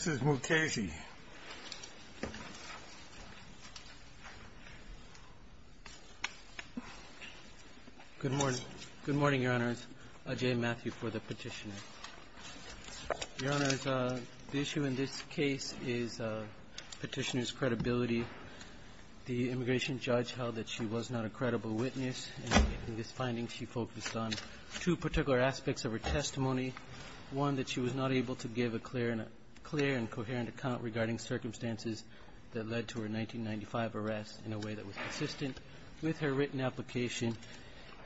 Good morning, Your Honors. Ajay Mathew for the petitioner. Your Honors, the issue in this case is petitioner's credibility. The immigration judge held that she was not a credible witness, and in this finding she focused on two particular aspects of her testimony. One, that she was not able to give a clear and coherent account regarding circumstances that led to her 1995 arrest in a way that was consistent with her written application.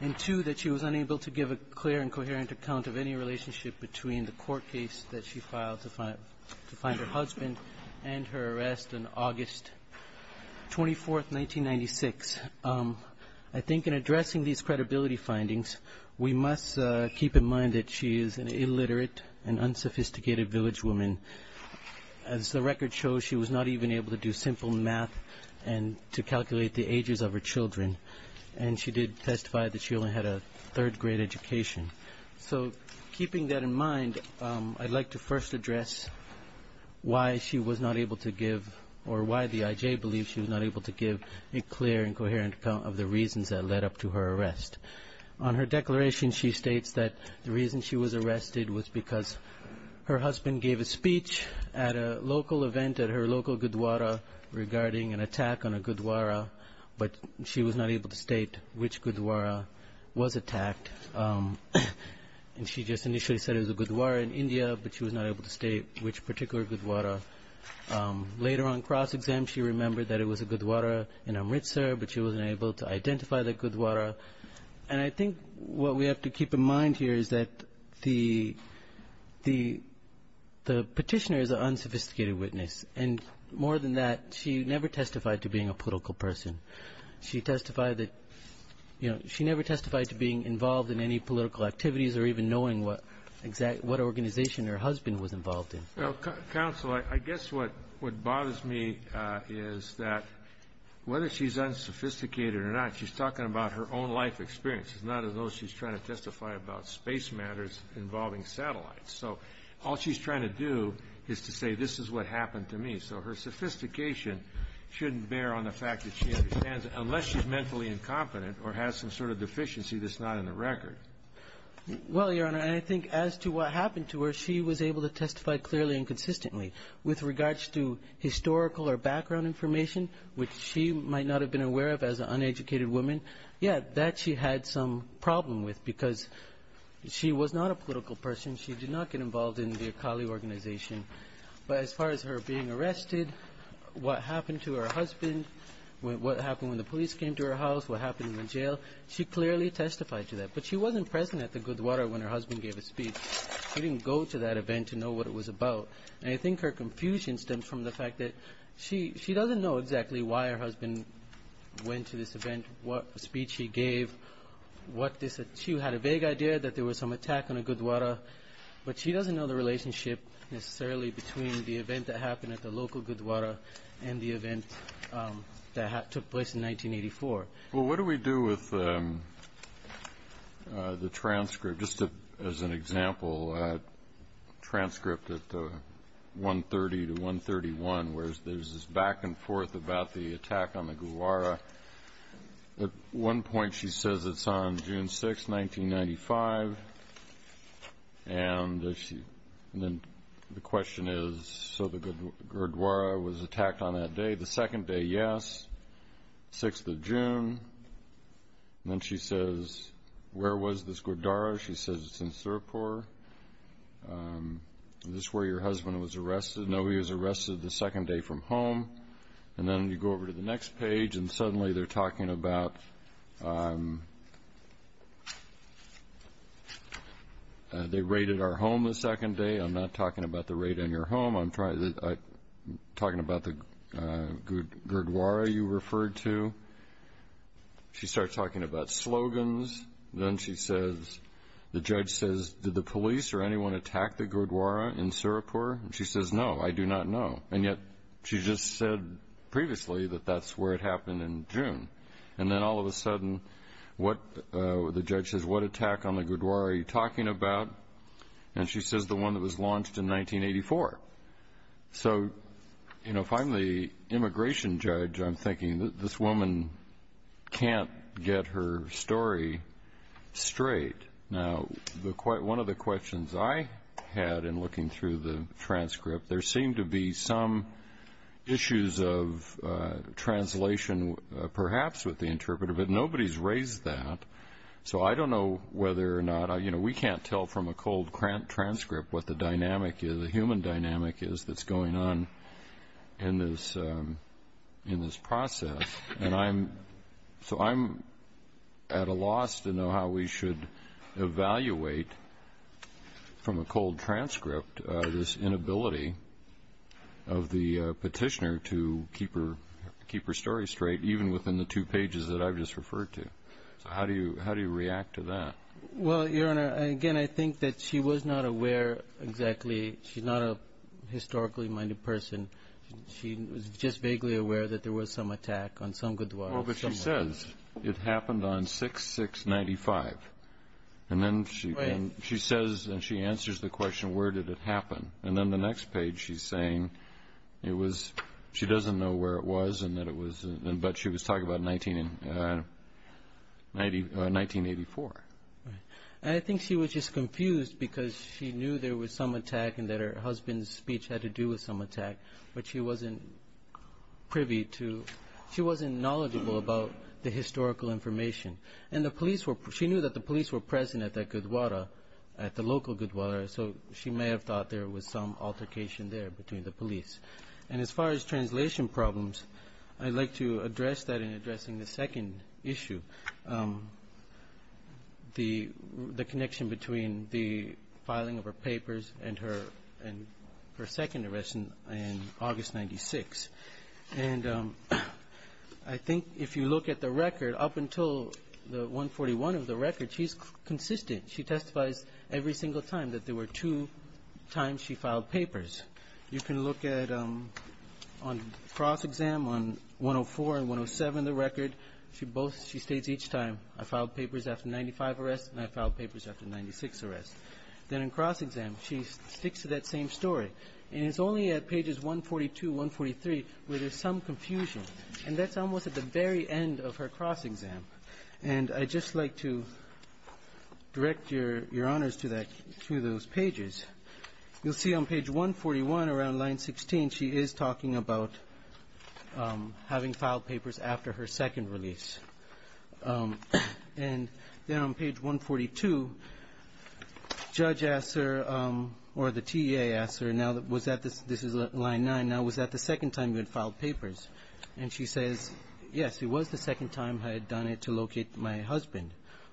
And two, that she was unable to give a clear and coherent account of any relationship between the court case that she filed to find her husband and her arrest on August 24, 1996. I think in addressing these credibility findings, we must keep in mind that she is an illiterate and unsophisticated village woman. As the record shows, she was not even able to do simple math to calculate the ages of her children, and she did testify that she only had a third grade education. So keeping that in mind, I'd like to first address why she was not able to give a clear and coherent account of the reasons that led up to her arrest. On her declaration, she states that the reason she was arrested was because her husband gave a speech at a local event at her local Gurdwara regarding an attack on a Gurdwara, but she was not able to state which Gurdwara was attacked. And she just initially said it was a Gurdwara in India, but she was not able to state which particular Gurdwara. Later on cross-exam, she remembered that it was a Gurdwara in Amritsar, but she wasn't able to identify the Gurdwara. And I think what we have to keep in mind here is that the petitioner is an unsophisticated witness, and more than that, she never testified to being a political person. She testified that, you know, she never testified to being involved in any political activities or even knowing what organization her husband was involved in. Well, Counsel, I guess what bothers me is that whether she's unsophisticated or not, she's talking about her own life experiences, not as though she's trying to testify about space matters involving satellites. So all she's trying to do is to say, this is what happened to me. So her sophistication shouldn't bear on the fact that she understands it, unless she's mentally incompetent or has some sort of deficiency that's not in the record. Well, Your Honor, I think as to what happened to her, she was able to testify clearly and consistently with regards to historical or background information, which she might not have been aware of as an uneducated woman. Yeah, that she had some problem with because she was not a political person. She did not get involved in the Akali organization. But as far as her being arrested, what happened to her husband, what happened when the police came to her house, what happened in the jail, she clearly testified to that. But she wasn't present at the Gurdwara when her husband gave a speech. She didn't go to that event to know what it was about. And I think her confusion stems from the fact that she doesn't know exactly why her husband went to this event, what speech he gave, what this, she had a vague idea that there was some attack on the Gurdwara, but she doesn't know the relationship necessarily between the event that happened at the local Gurdwara and the event that took place in 1984. Well, what do we do with the transcript, just as an example, a transcript at 130 to 131, where there's this back and forth about the attack on the Gurdwara. At one point she says it's on June 6, 1995. And then the question is, so the Gurdwara was on June 6. And then she says, where was this Gurdwara? She says it's in Serapore. Is this where your husband was arrested? No, he was arrested the second day from home. And then you go over to the next page, and suddenly they're talking about, they raided our home the second day. I'm not talking about the raid on your home. I'm talking about the Gurdwara you referred to. She starts talking about slogans. Then the judge says, did the police or anyone attack the Gurdwara in Serapore? And she says, no, I do not know. And yet she just said previously that that's where it happened in June. And then all of a sudden, the judge says, what attack on the Gurdwara are you talking about? And she says the one that was launched in 1984. So, you know, if I'm the immigration judge, I'm thinking that this woman can't get her story straight. Now, one of the questions I had in looking through the transcript, there seemed to be some issues of translation, perhaps, with the interpreter. But nobody's raised that. So I don't know whether or not, you know, we can't tell from a cold transcript what the dynamic is, the human dynamic is that's going on in this process. And I'm, so I'm at a loss to know how we should evaluate from a cold transcript this inability of the petitioner to keep her story straight, even within the two pages that I've just referred to. So how do you react to that? Well, Your Honor, again, I think that she was not aware exactly. She's not a historically minded person. She was just vaguely aware that there was some attack on some Gurdwara. Well, but she says it happened on 6-6-95. And then she says and she answers the question, where did it happen? And then the next page she's saying it was, she doesn't know where it was and that it was, but she was talking about 19, 1984. I think she was just confused because she knew there was some attack and that her husband's speech had to do with some attack, but she wasn't privy to, she wasn't knowledgeable about the historical information. And the police were, she knew that the police were present at that Gurdwara, at the local Gurdwara, so she may have thought there was some altercation there between the police. And as far as translation problems, I'd like to address that in addressing the second issue, the connection between the filing of her papers and her second arrest in August 96. And I think if you look at the record, up until the 141 of the record, she's consistent. She testifies every single time that there were two times she filed papers. You can look at, on cross-exam, on 104 and 107 of the record, she both, she states each time, I filed papers after 95 arrests and I filed papers after 96 arrests. Then in cross-exam, she sticks to that same story. And it's only at pages 142, 143, where there's some confusion. And that's almost at the very end of her cross-exam. And I'd just like to direct your honors to that, to those pages. You'll see on page 141, around line 16, she is talking about having filed papers after her second release. And then on page 142, Judge asked her, or the judge asked her, and she says, yes, it was the second time I had done it to locate my husband.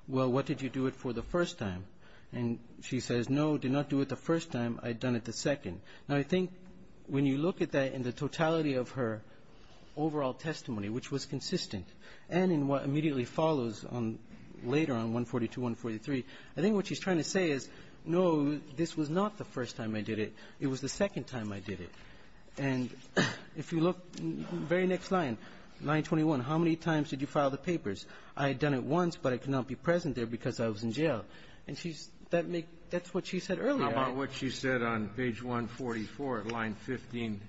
Well, what did you do it for the first time? And she says, no, did not do it the first time. I'd done it the second. Now, I think when you look at that in the totality of her overall testimony, which was consistent, and in what immediately follows on later on, 142, 143, I think what she's trying to say is, no, this was not the first time I did it. And if you look in the very next line, line 21, how many times did you file the papers? I had done it once, but I could not be present there because I was in jail. And that's what she said earlier. How about what she said on page 144, line 15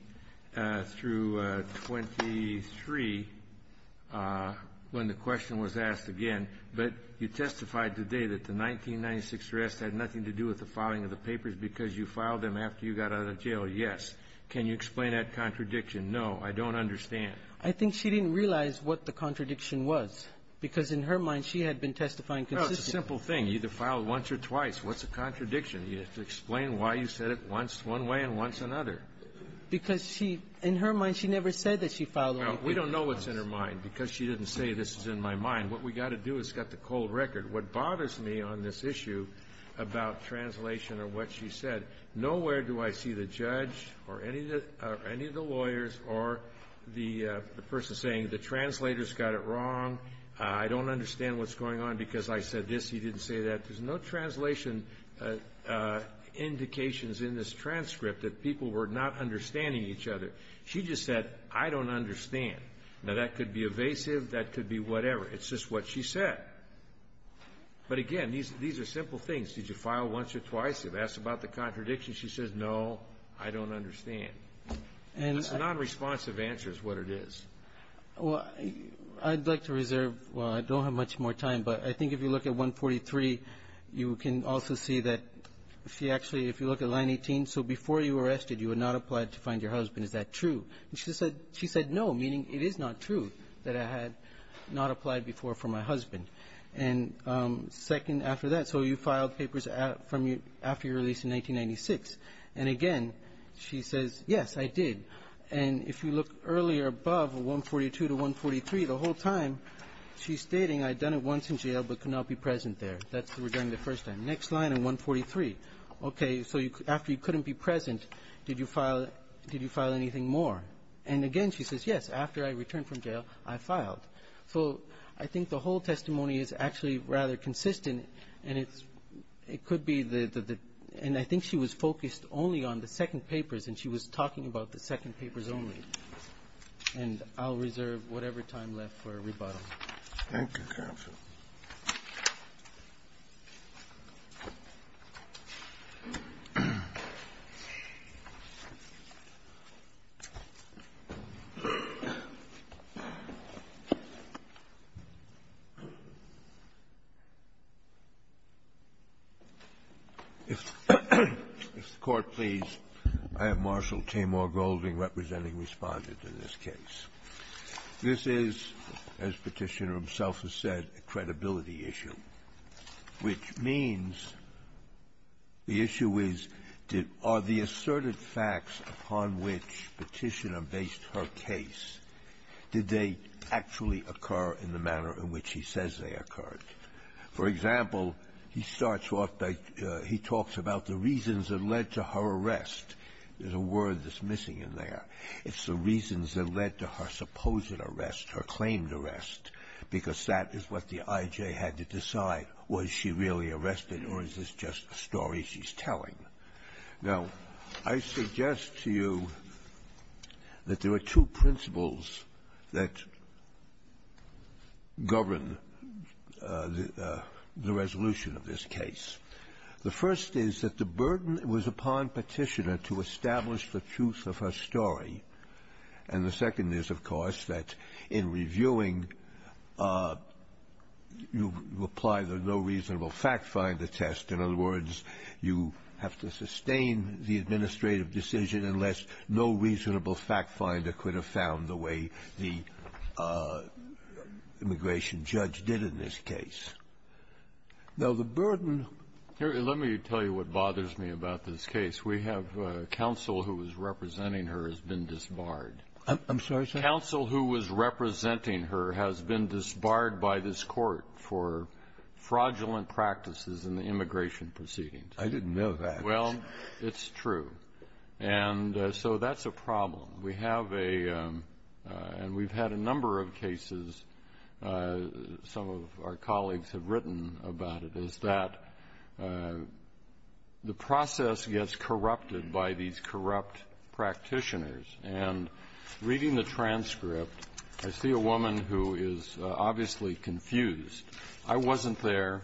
through 23, when the question was asked again, but you testified today that the 1996 arrest had nothing to do with the filing of the papers? Can you explain that contradiction? No, I don't understand. I think she didn't realize what the contradiction was, because in her mind, she had been testifying consistently. Well, it's a simple thing. You either filed once or twice. What's the contradiction? You have to explain why you said it once, one way and once another. Because she, in her mind, she never said that she filed the papers once. No. We don't know what's in her mind, because she didn't say this is in my mind. What we've got to do is get the cold record. What bothers me on this issue about translation or what she said, nowhere do I see the judge or any of the lawyers or the person saying the translator's got it wrong. I don't understand what's going on because I said this. He didn't say that. There's no translation indications in this transcript that people were not understanding each other. She just said, I don't understand. Now, that could be evasive. That could be whatever. It's just what she said. But, again, these are simple things. Did you file once or twice? You've asked about the contradiction. She says, no, I don't understand. It's a nonresponsive answer is what it is. Well, I'd like to reserve. Well, I don't have much more time, but I think if you look at 143, you can also see that she actually, if you look at line 18, so before you were arrested, you had not applied to find your husband. Is that true? And she said no, meaning it is not true that I had not applied before for my husband. And second, after that, so you filed papers from you after you were released in 1996. And, again, she says, yes, I did. And if you look earlier above 142 to 143, the whole time she's stating I'd done it once in jail but could not be present there. That's regarding the first time. Next line in 143. Okay, so after you couldn't be present, did you file anything more? And, again, she says, yes, after I returned from jail, I filed. So I think the whole testimony is actually rather consistent, and it's – it could be the – and I think she was focused only on the second papers, and she was talking about the second papers only. And I'll reserve whatever time left for rebuttal. Thank you, counsel. If the Court please, I have Marshall Tamor Golding representing in this case. This is, as Petitioner himself has said, a credibility issue, which means the issue is did – are the asserted facts upon which Petitioner based her case, did they actually occur in the manner in which he says they occurred? For example, he starts off by – he talks about the reasons that led to her arrest. There's a word that's used. It's the reasons that led to her supposed arrest, her claimed arrest, because that is what the IJ had to decide. Was she really arrested, or is this just a story she's telling? Now, I suggest to you that there are two principles that govern the resolution of this case. The first is that the burden was upon Petitioner to establish the truth of her story. And the second is, of course, that in reviewing, you apply the no reasonable fact finder test. In other words, you have to sustain the administrative decision unless no reasonable fact finder could have found the way the immigration judge did in this case. Now, the burden – I'm sorry, sir? Counsel who was representing her has been disbarred by this court for fraudulent practices in the immigration proceedings. I didn't know that. Well, it's true. And so that's a problem. We have a – and we've had a number of cases, some of our colleagues have written about it, is that the process gets corrupted by these corrupt practitioners. And reading the transcript, I see a woman who is obviously confused. I wasn't there.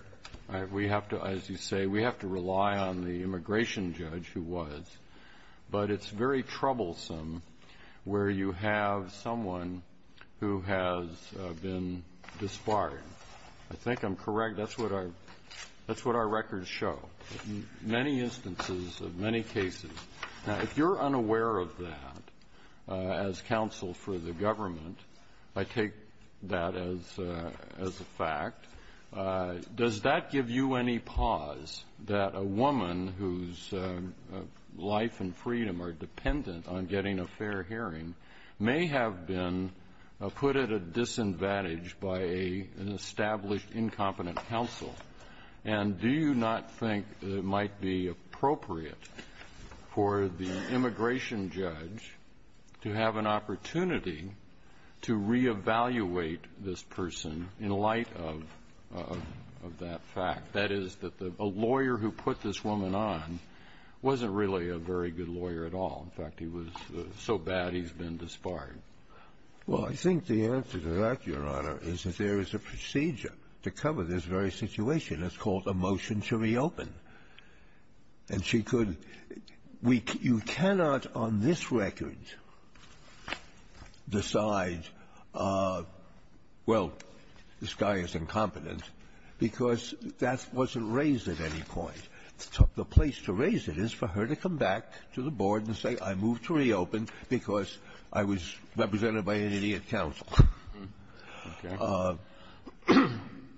We have to – as you say, we have to rely on the immigration judge who was. But it's very troublesome where you have someone who has been disbarred. I think I'm correct. That's what our – that's what our records show. Many instances of many cases. Now, if you're unaware of that as counsel for the government, I take that as a fact, does that give you any pause that a woman whose life and freedom are dependent on getting a fair hearing may have been put at a disadvantage by an established incompetent counsel? And do you not think it might be appropriate for the immigration judge to have an opportunity to reevaluate this person in light of that fact, that is, that a lawyer who put this woman on wasn't really a very good lawyer at all. In fact, he was so bad he's been disbarred. Well, I think the answer to that, Your Honor, is that there is a procedure to cover this very situation. It's called a motion to reopen. And she could – we – you cannot on this record decide, well, this guy is incompetent, because that wasn't read or raised at any point. The place to raise it is for her to come back to the board and say, I move to reopen because I was represented by an idiot counsel.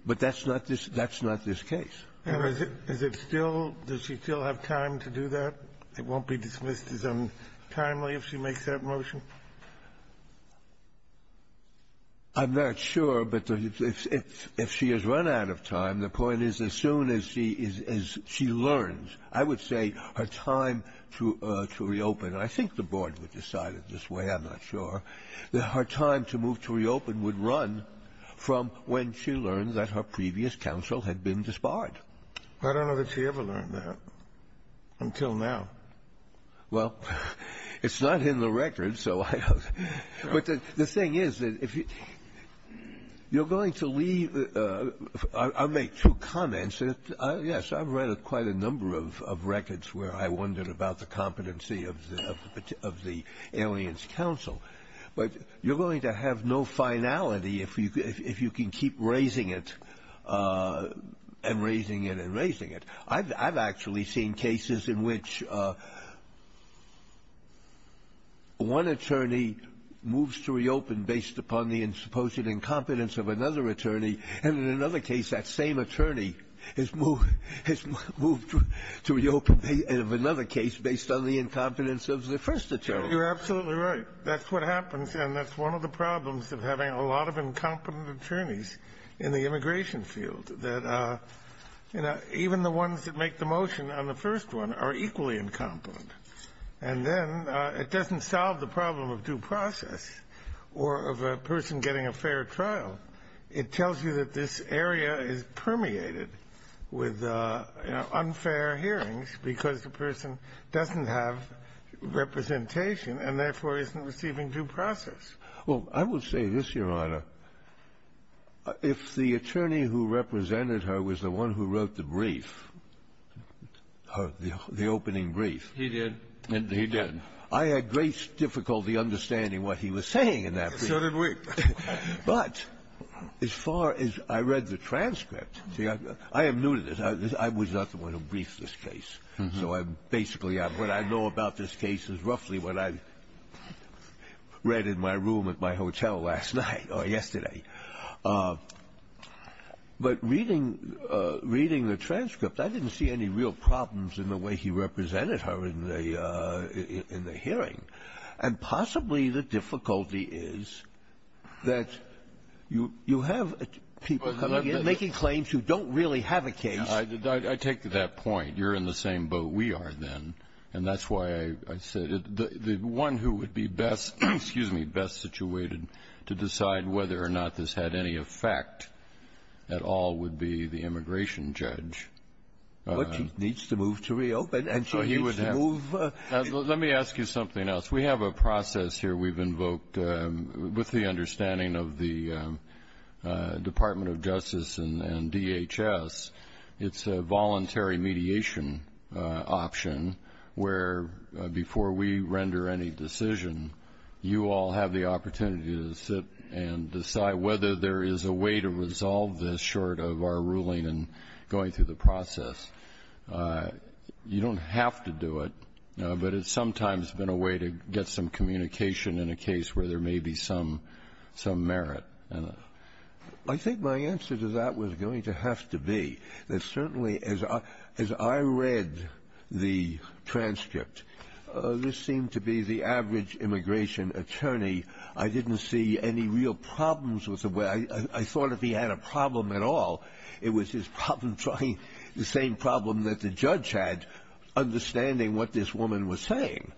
But that's not this – that's not this case. And is it still – does she still have time to do that? It won't be dismissed as untimely if she makes that motion? I'm not sure. But if she has run out of time, the point is, as soon as she learns, I would say her time to reopen – and I think the board would decide it this way, I'm not sure – that her time to move to reopen would run from when she learned that her previous counsel had been disbarred. I don't know that she ever learned that until now. Well, it's not in the record, so I don't – but the thing is that if you – you're going to leave – I'll make two comments. Yes, I've read quite a number of records where I wondered about the competency of the alien's counsel. But you're going to have no finality if you can keep raising it and raising it and raising it. I've actually seen cases in which one attorney moves to reopen based upon the supposed incompetence of another attorney, and in another case, that same attorney has moved to reopen of another case based on the incompetence of the first attorney. You're absolutely right. That's what happens, and that's one of the problems of having a lot of incompetent attorneys in the immigration field, that even the ones that make the motion on the first one are equally incompetent. And then it doesn't solve the problem of due process or of a person getting a fair trial. It tells you that this area is permeated with unfair hearings because the person doesn't have representation and therefore isn't receiving due process. Well, I would say this, Your Honor. If the attorney who represented her was the one who wrote the brief, the opening brief. He did. He did. I had great difficulty understanding what he was saying in that brief. So did we. But as far as I read the transcript, I am new to this. I was not the one who briefed this case. So I'm basically, what I know about this case is roughly what I read in my room at my hotel last night or yesterday. But reading the transcript, I didn't see any real problems in the way he represented her in the hearing. And possibly the difficulty is that you have people coming in making claims who don't really have a case. I take that point. You're in the same boat we are, then. And that's why I said the one who would be best situated to decide whether or not this had any effect at all would be the immigration judge. But she needs to move to reopen, and she needs to move. Let me ask you something else. We have a process here we've invoked with the understanding of the Department of Justice and DHS. It's a voluntary mediation option where, before we render any decision, you all have the opportunity to sit and decide whether there is a way to resolve this short of our ruling and going through the process. You don't have to do it, but it's sometimes been a way to get some communication in a case where there may be some merit. I think my answer to that was going to have to be that certainly as I read the transcript, this seemed to be the average immigration attorney. I didn't see any real problems. I thought if he had a problem at all, it was his problem trying the same problem that the judge had, understanding what this woman was saying.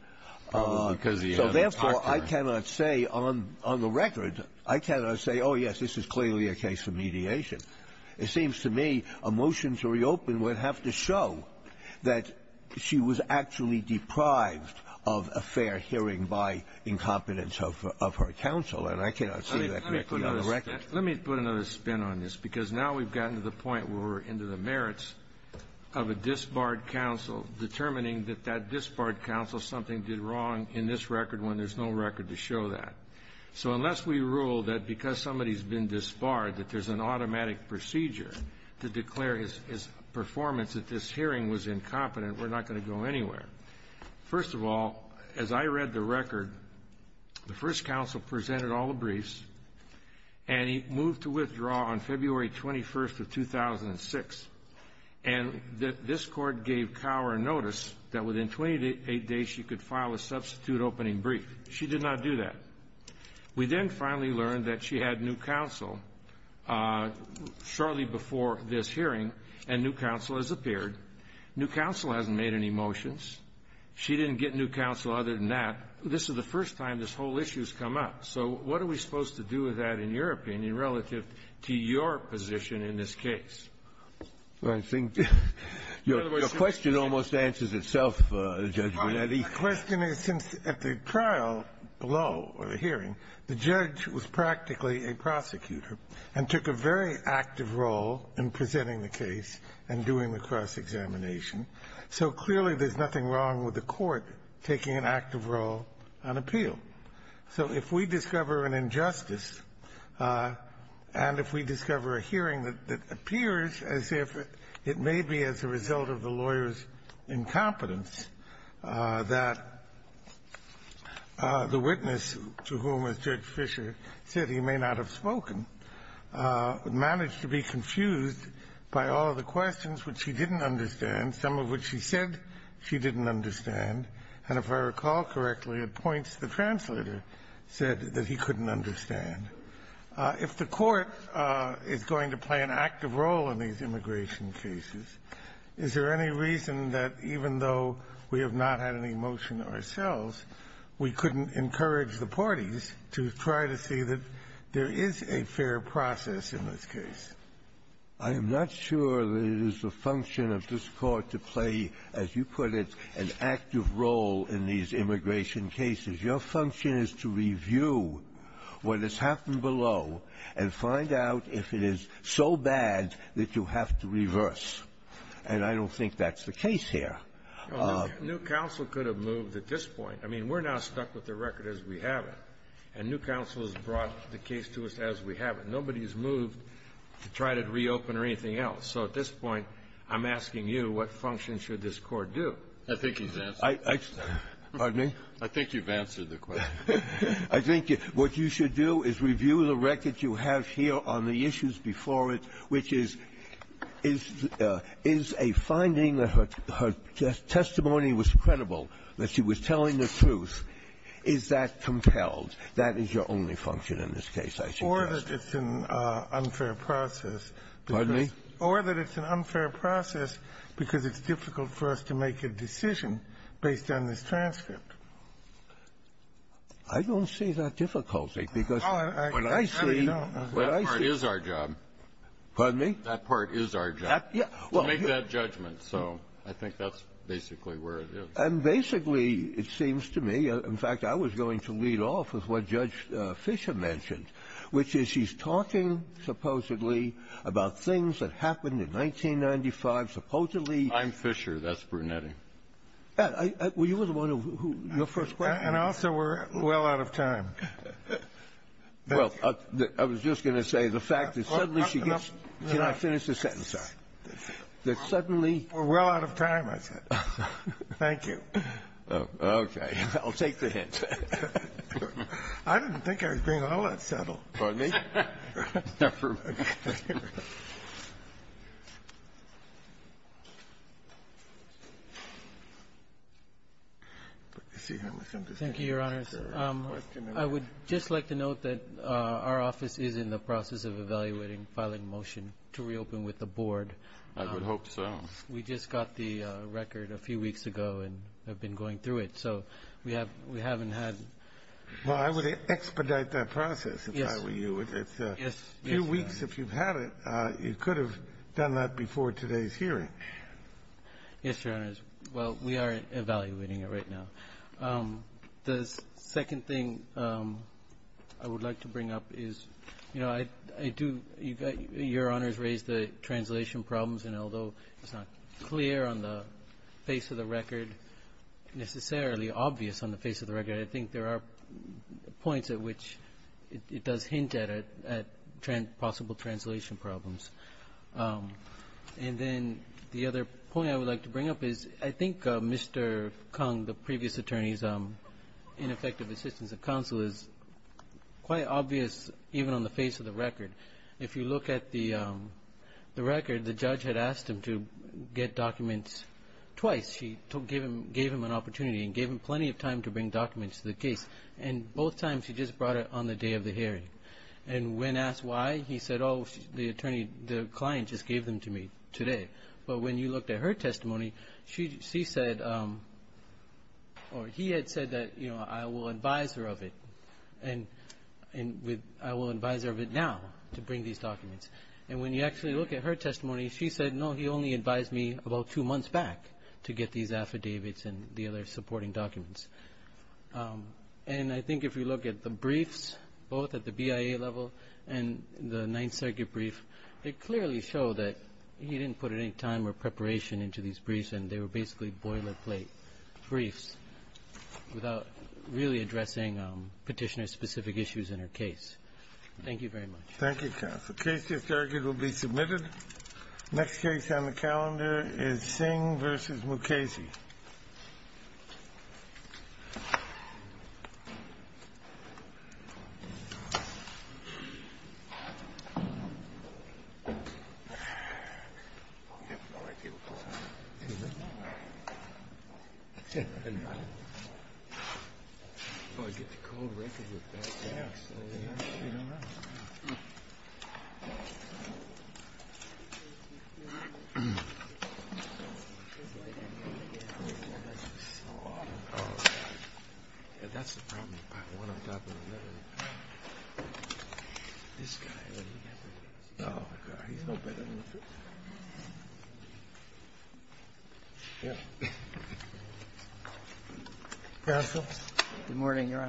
Probably because he had a doctor. So, therefore, I cannot say on the record, I cannot say, oh, yes, this is clearly a case of mediation. It seems to me a motion to reopen would have to show that she was actually deprived of a fair hearing by incompetence of her counsel. And I cannot say that directly on the record. Let me put another spin on this, because now we've gotten to the point where we're into the merits of a disbarred counsel determining that that disbarred counsel, something did wrong in this record when there's no record to show that. So unless we rule that because somebody's been disbarred that there's an automatic procedure to declare his performance that this hearing was incompetent, we're not going to go anywhere. First of all, as I read the record, the first counsel presented all the briefs, and he moved to withdraw on February 21st of 2006. And this Court gave Cower notice that within 28 days she could file a substitute opening brief. She did not do that. We then finally learned that she had new counsel shortly before this hearing, and new counsel has appeared. New counsel hasn't made any motions. She didn't get new counsel other than that. This is the first time this whole issue has come up. So what are we supposed to do with that in your opinion relative to your position in this case? I think your question almost answers itself, Judge Bonetti. My question is, since at the trial below or the hearing, the judge was practically a prosecutor and took a very active role in presenting the case and doing the cross-examination, so clearly there's nothing wrong with the Court taking an active role on appeal. So if we discover an injustice, and if we discover a hearing that appears as if it may be as a result of the lawyer's incompetence, that the witness to whom, as Judge Fisher said, he may not have spoken, managed to be confused by all of the questions which she didn't understand, some of which she said she didn't understand. And if I recall correctly, at points, the translator said that he couldn't understand. If the Court is going to play an active role in these immigration cases, is there any reason that even though we have not had any motion ourselves, we couldn't encourage the parties to try to see that there is a fair process in this case? I am not sure that it is the function of this Court to play, as you put it, an active role in these immigration cases. Your function is to review what has happened below and find out if it is so bad that you have to reverse. And I don't think that's the case here. New Counsel could have moved at this point. I mean, we're now stuck with the record as we have it. And New Counsel has brought the case to us as we have it. Nobody has moved to try to reopen or anything else. So at this point, I'm asking you, what function should this Court do? I think he's answered. Pardon me? I think you've answered the question. I think what you should do is review the record you have here on the issues before it, which is, is a finding that her testimony was credible, that she was telling the truth. Is that compelled? That is your only function in this case, I suggest. Or that it's an unfair process. Pardon me? Or that it's an unfair process because it's difficult for us to make a decision based on this transcript. I don't see that difficulty, because what I see — No, you don't. That part is our job. Pardon me? That part is our job, to make that judgment. So I think that's basically where it is. And basically, it seems to me, in fact, I was going to lead off with what Judge Breyer said, that the trial that happened in 1995 supposedly — I'm Fisher. That's Brunetti. Well, you were the one who — your first question. And also, we're well out of time. Well, I was just going to say the fact that suddenly she gets — Can I finish this sentence? Sorry. That suddenly — We're well out of time, I said. Thank you. Okay. I'll take the hint. I didn't think I was being all that subtle. Pardon me? Not for a moment. Thank you, Your Honors. I would just like to note that our office is in the process of evaluating filing a motion to reopen with the Board. I would hope so. We just got the record a few weeks ago and have been going through it. So we haven't had — Well, I would expedite that process, if I were you. Yes. A few weeks, if you've had it, you could have done that before today's hearing. Yes, Your Honors. Well, we are evaluating it right now. The second thing I would like to bring up is, you know, I do — your Honors raised the translation problems. And although it's not clear on the face of the record, necessarily obvious on the points at which it does hint at possible translation problems. And then the other point I would like to bring up is I think Mr. Kung, the previous attorney's ineffective assistance at counsel, is quite obvious even on the face of the record. If you look at the record, the judge had asked him to get documents twice. She gave him an opportunity and gave him plenty of time to bring documents to the hearing. Both times, she just brought it on the day of the hearing. And when asked why, he said, oh, the attorney — the client just gave them to me today. But when you looked at her testimony, she said — or he had said that, you know, I will advise her of it and I will advise her of it now to bring these documents. And when you actually look at her testimony, she said, no, he only advised me about two months back to get these affidavits and the other supporting documents. And I think if you look at the briefs, both at the BIA level and the Ninth Circuit brief, they clearly show that he didn't put any time or preparation into these briefs and they were basically boilerplate briefs without really addressing Petitioner's specific issues in her case. Thank you very much. Thank you, counsel. The case is argued will be submitted. Next case on the calendar is Singh v. Mukasey. Thank you. Thank you.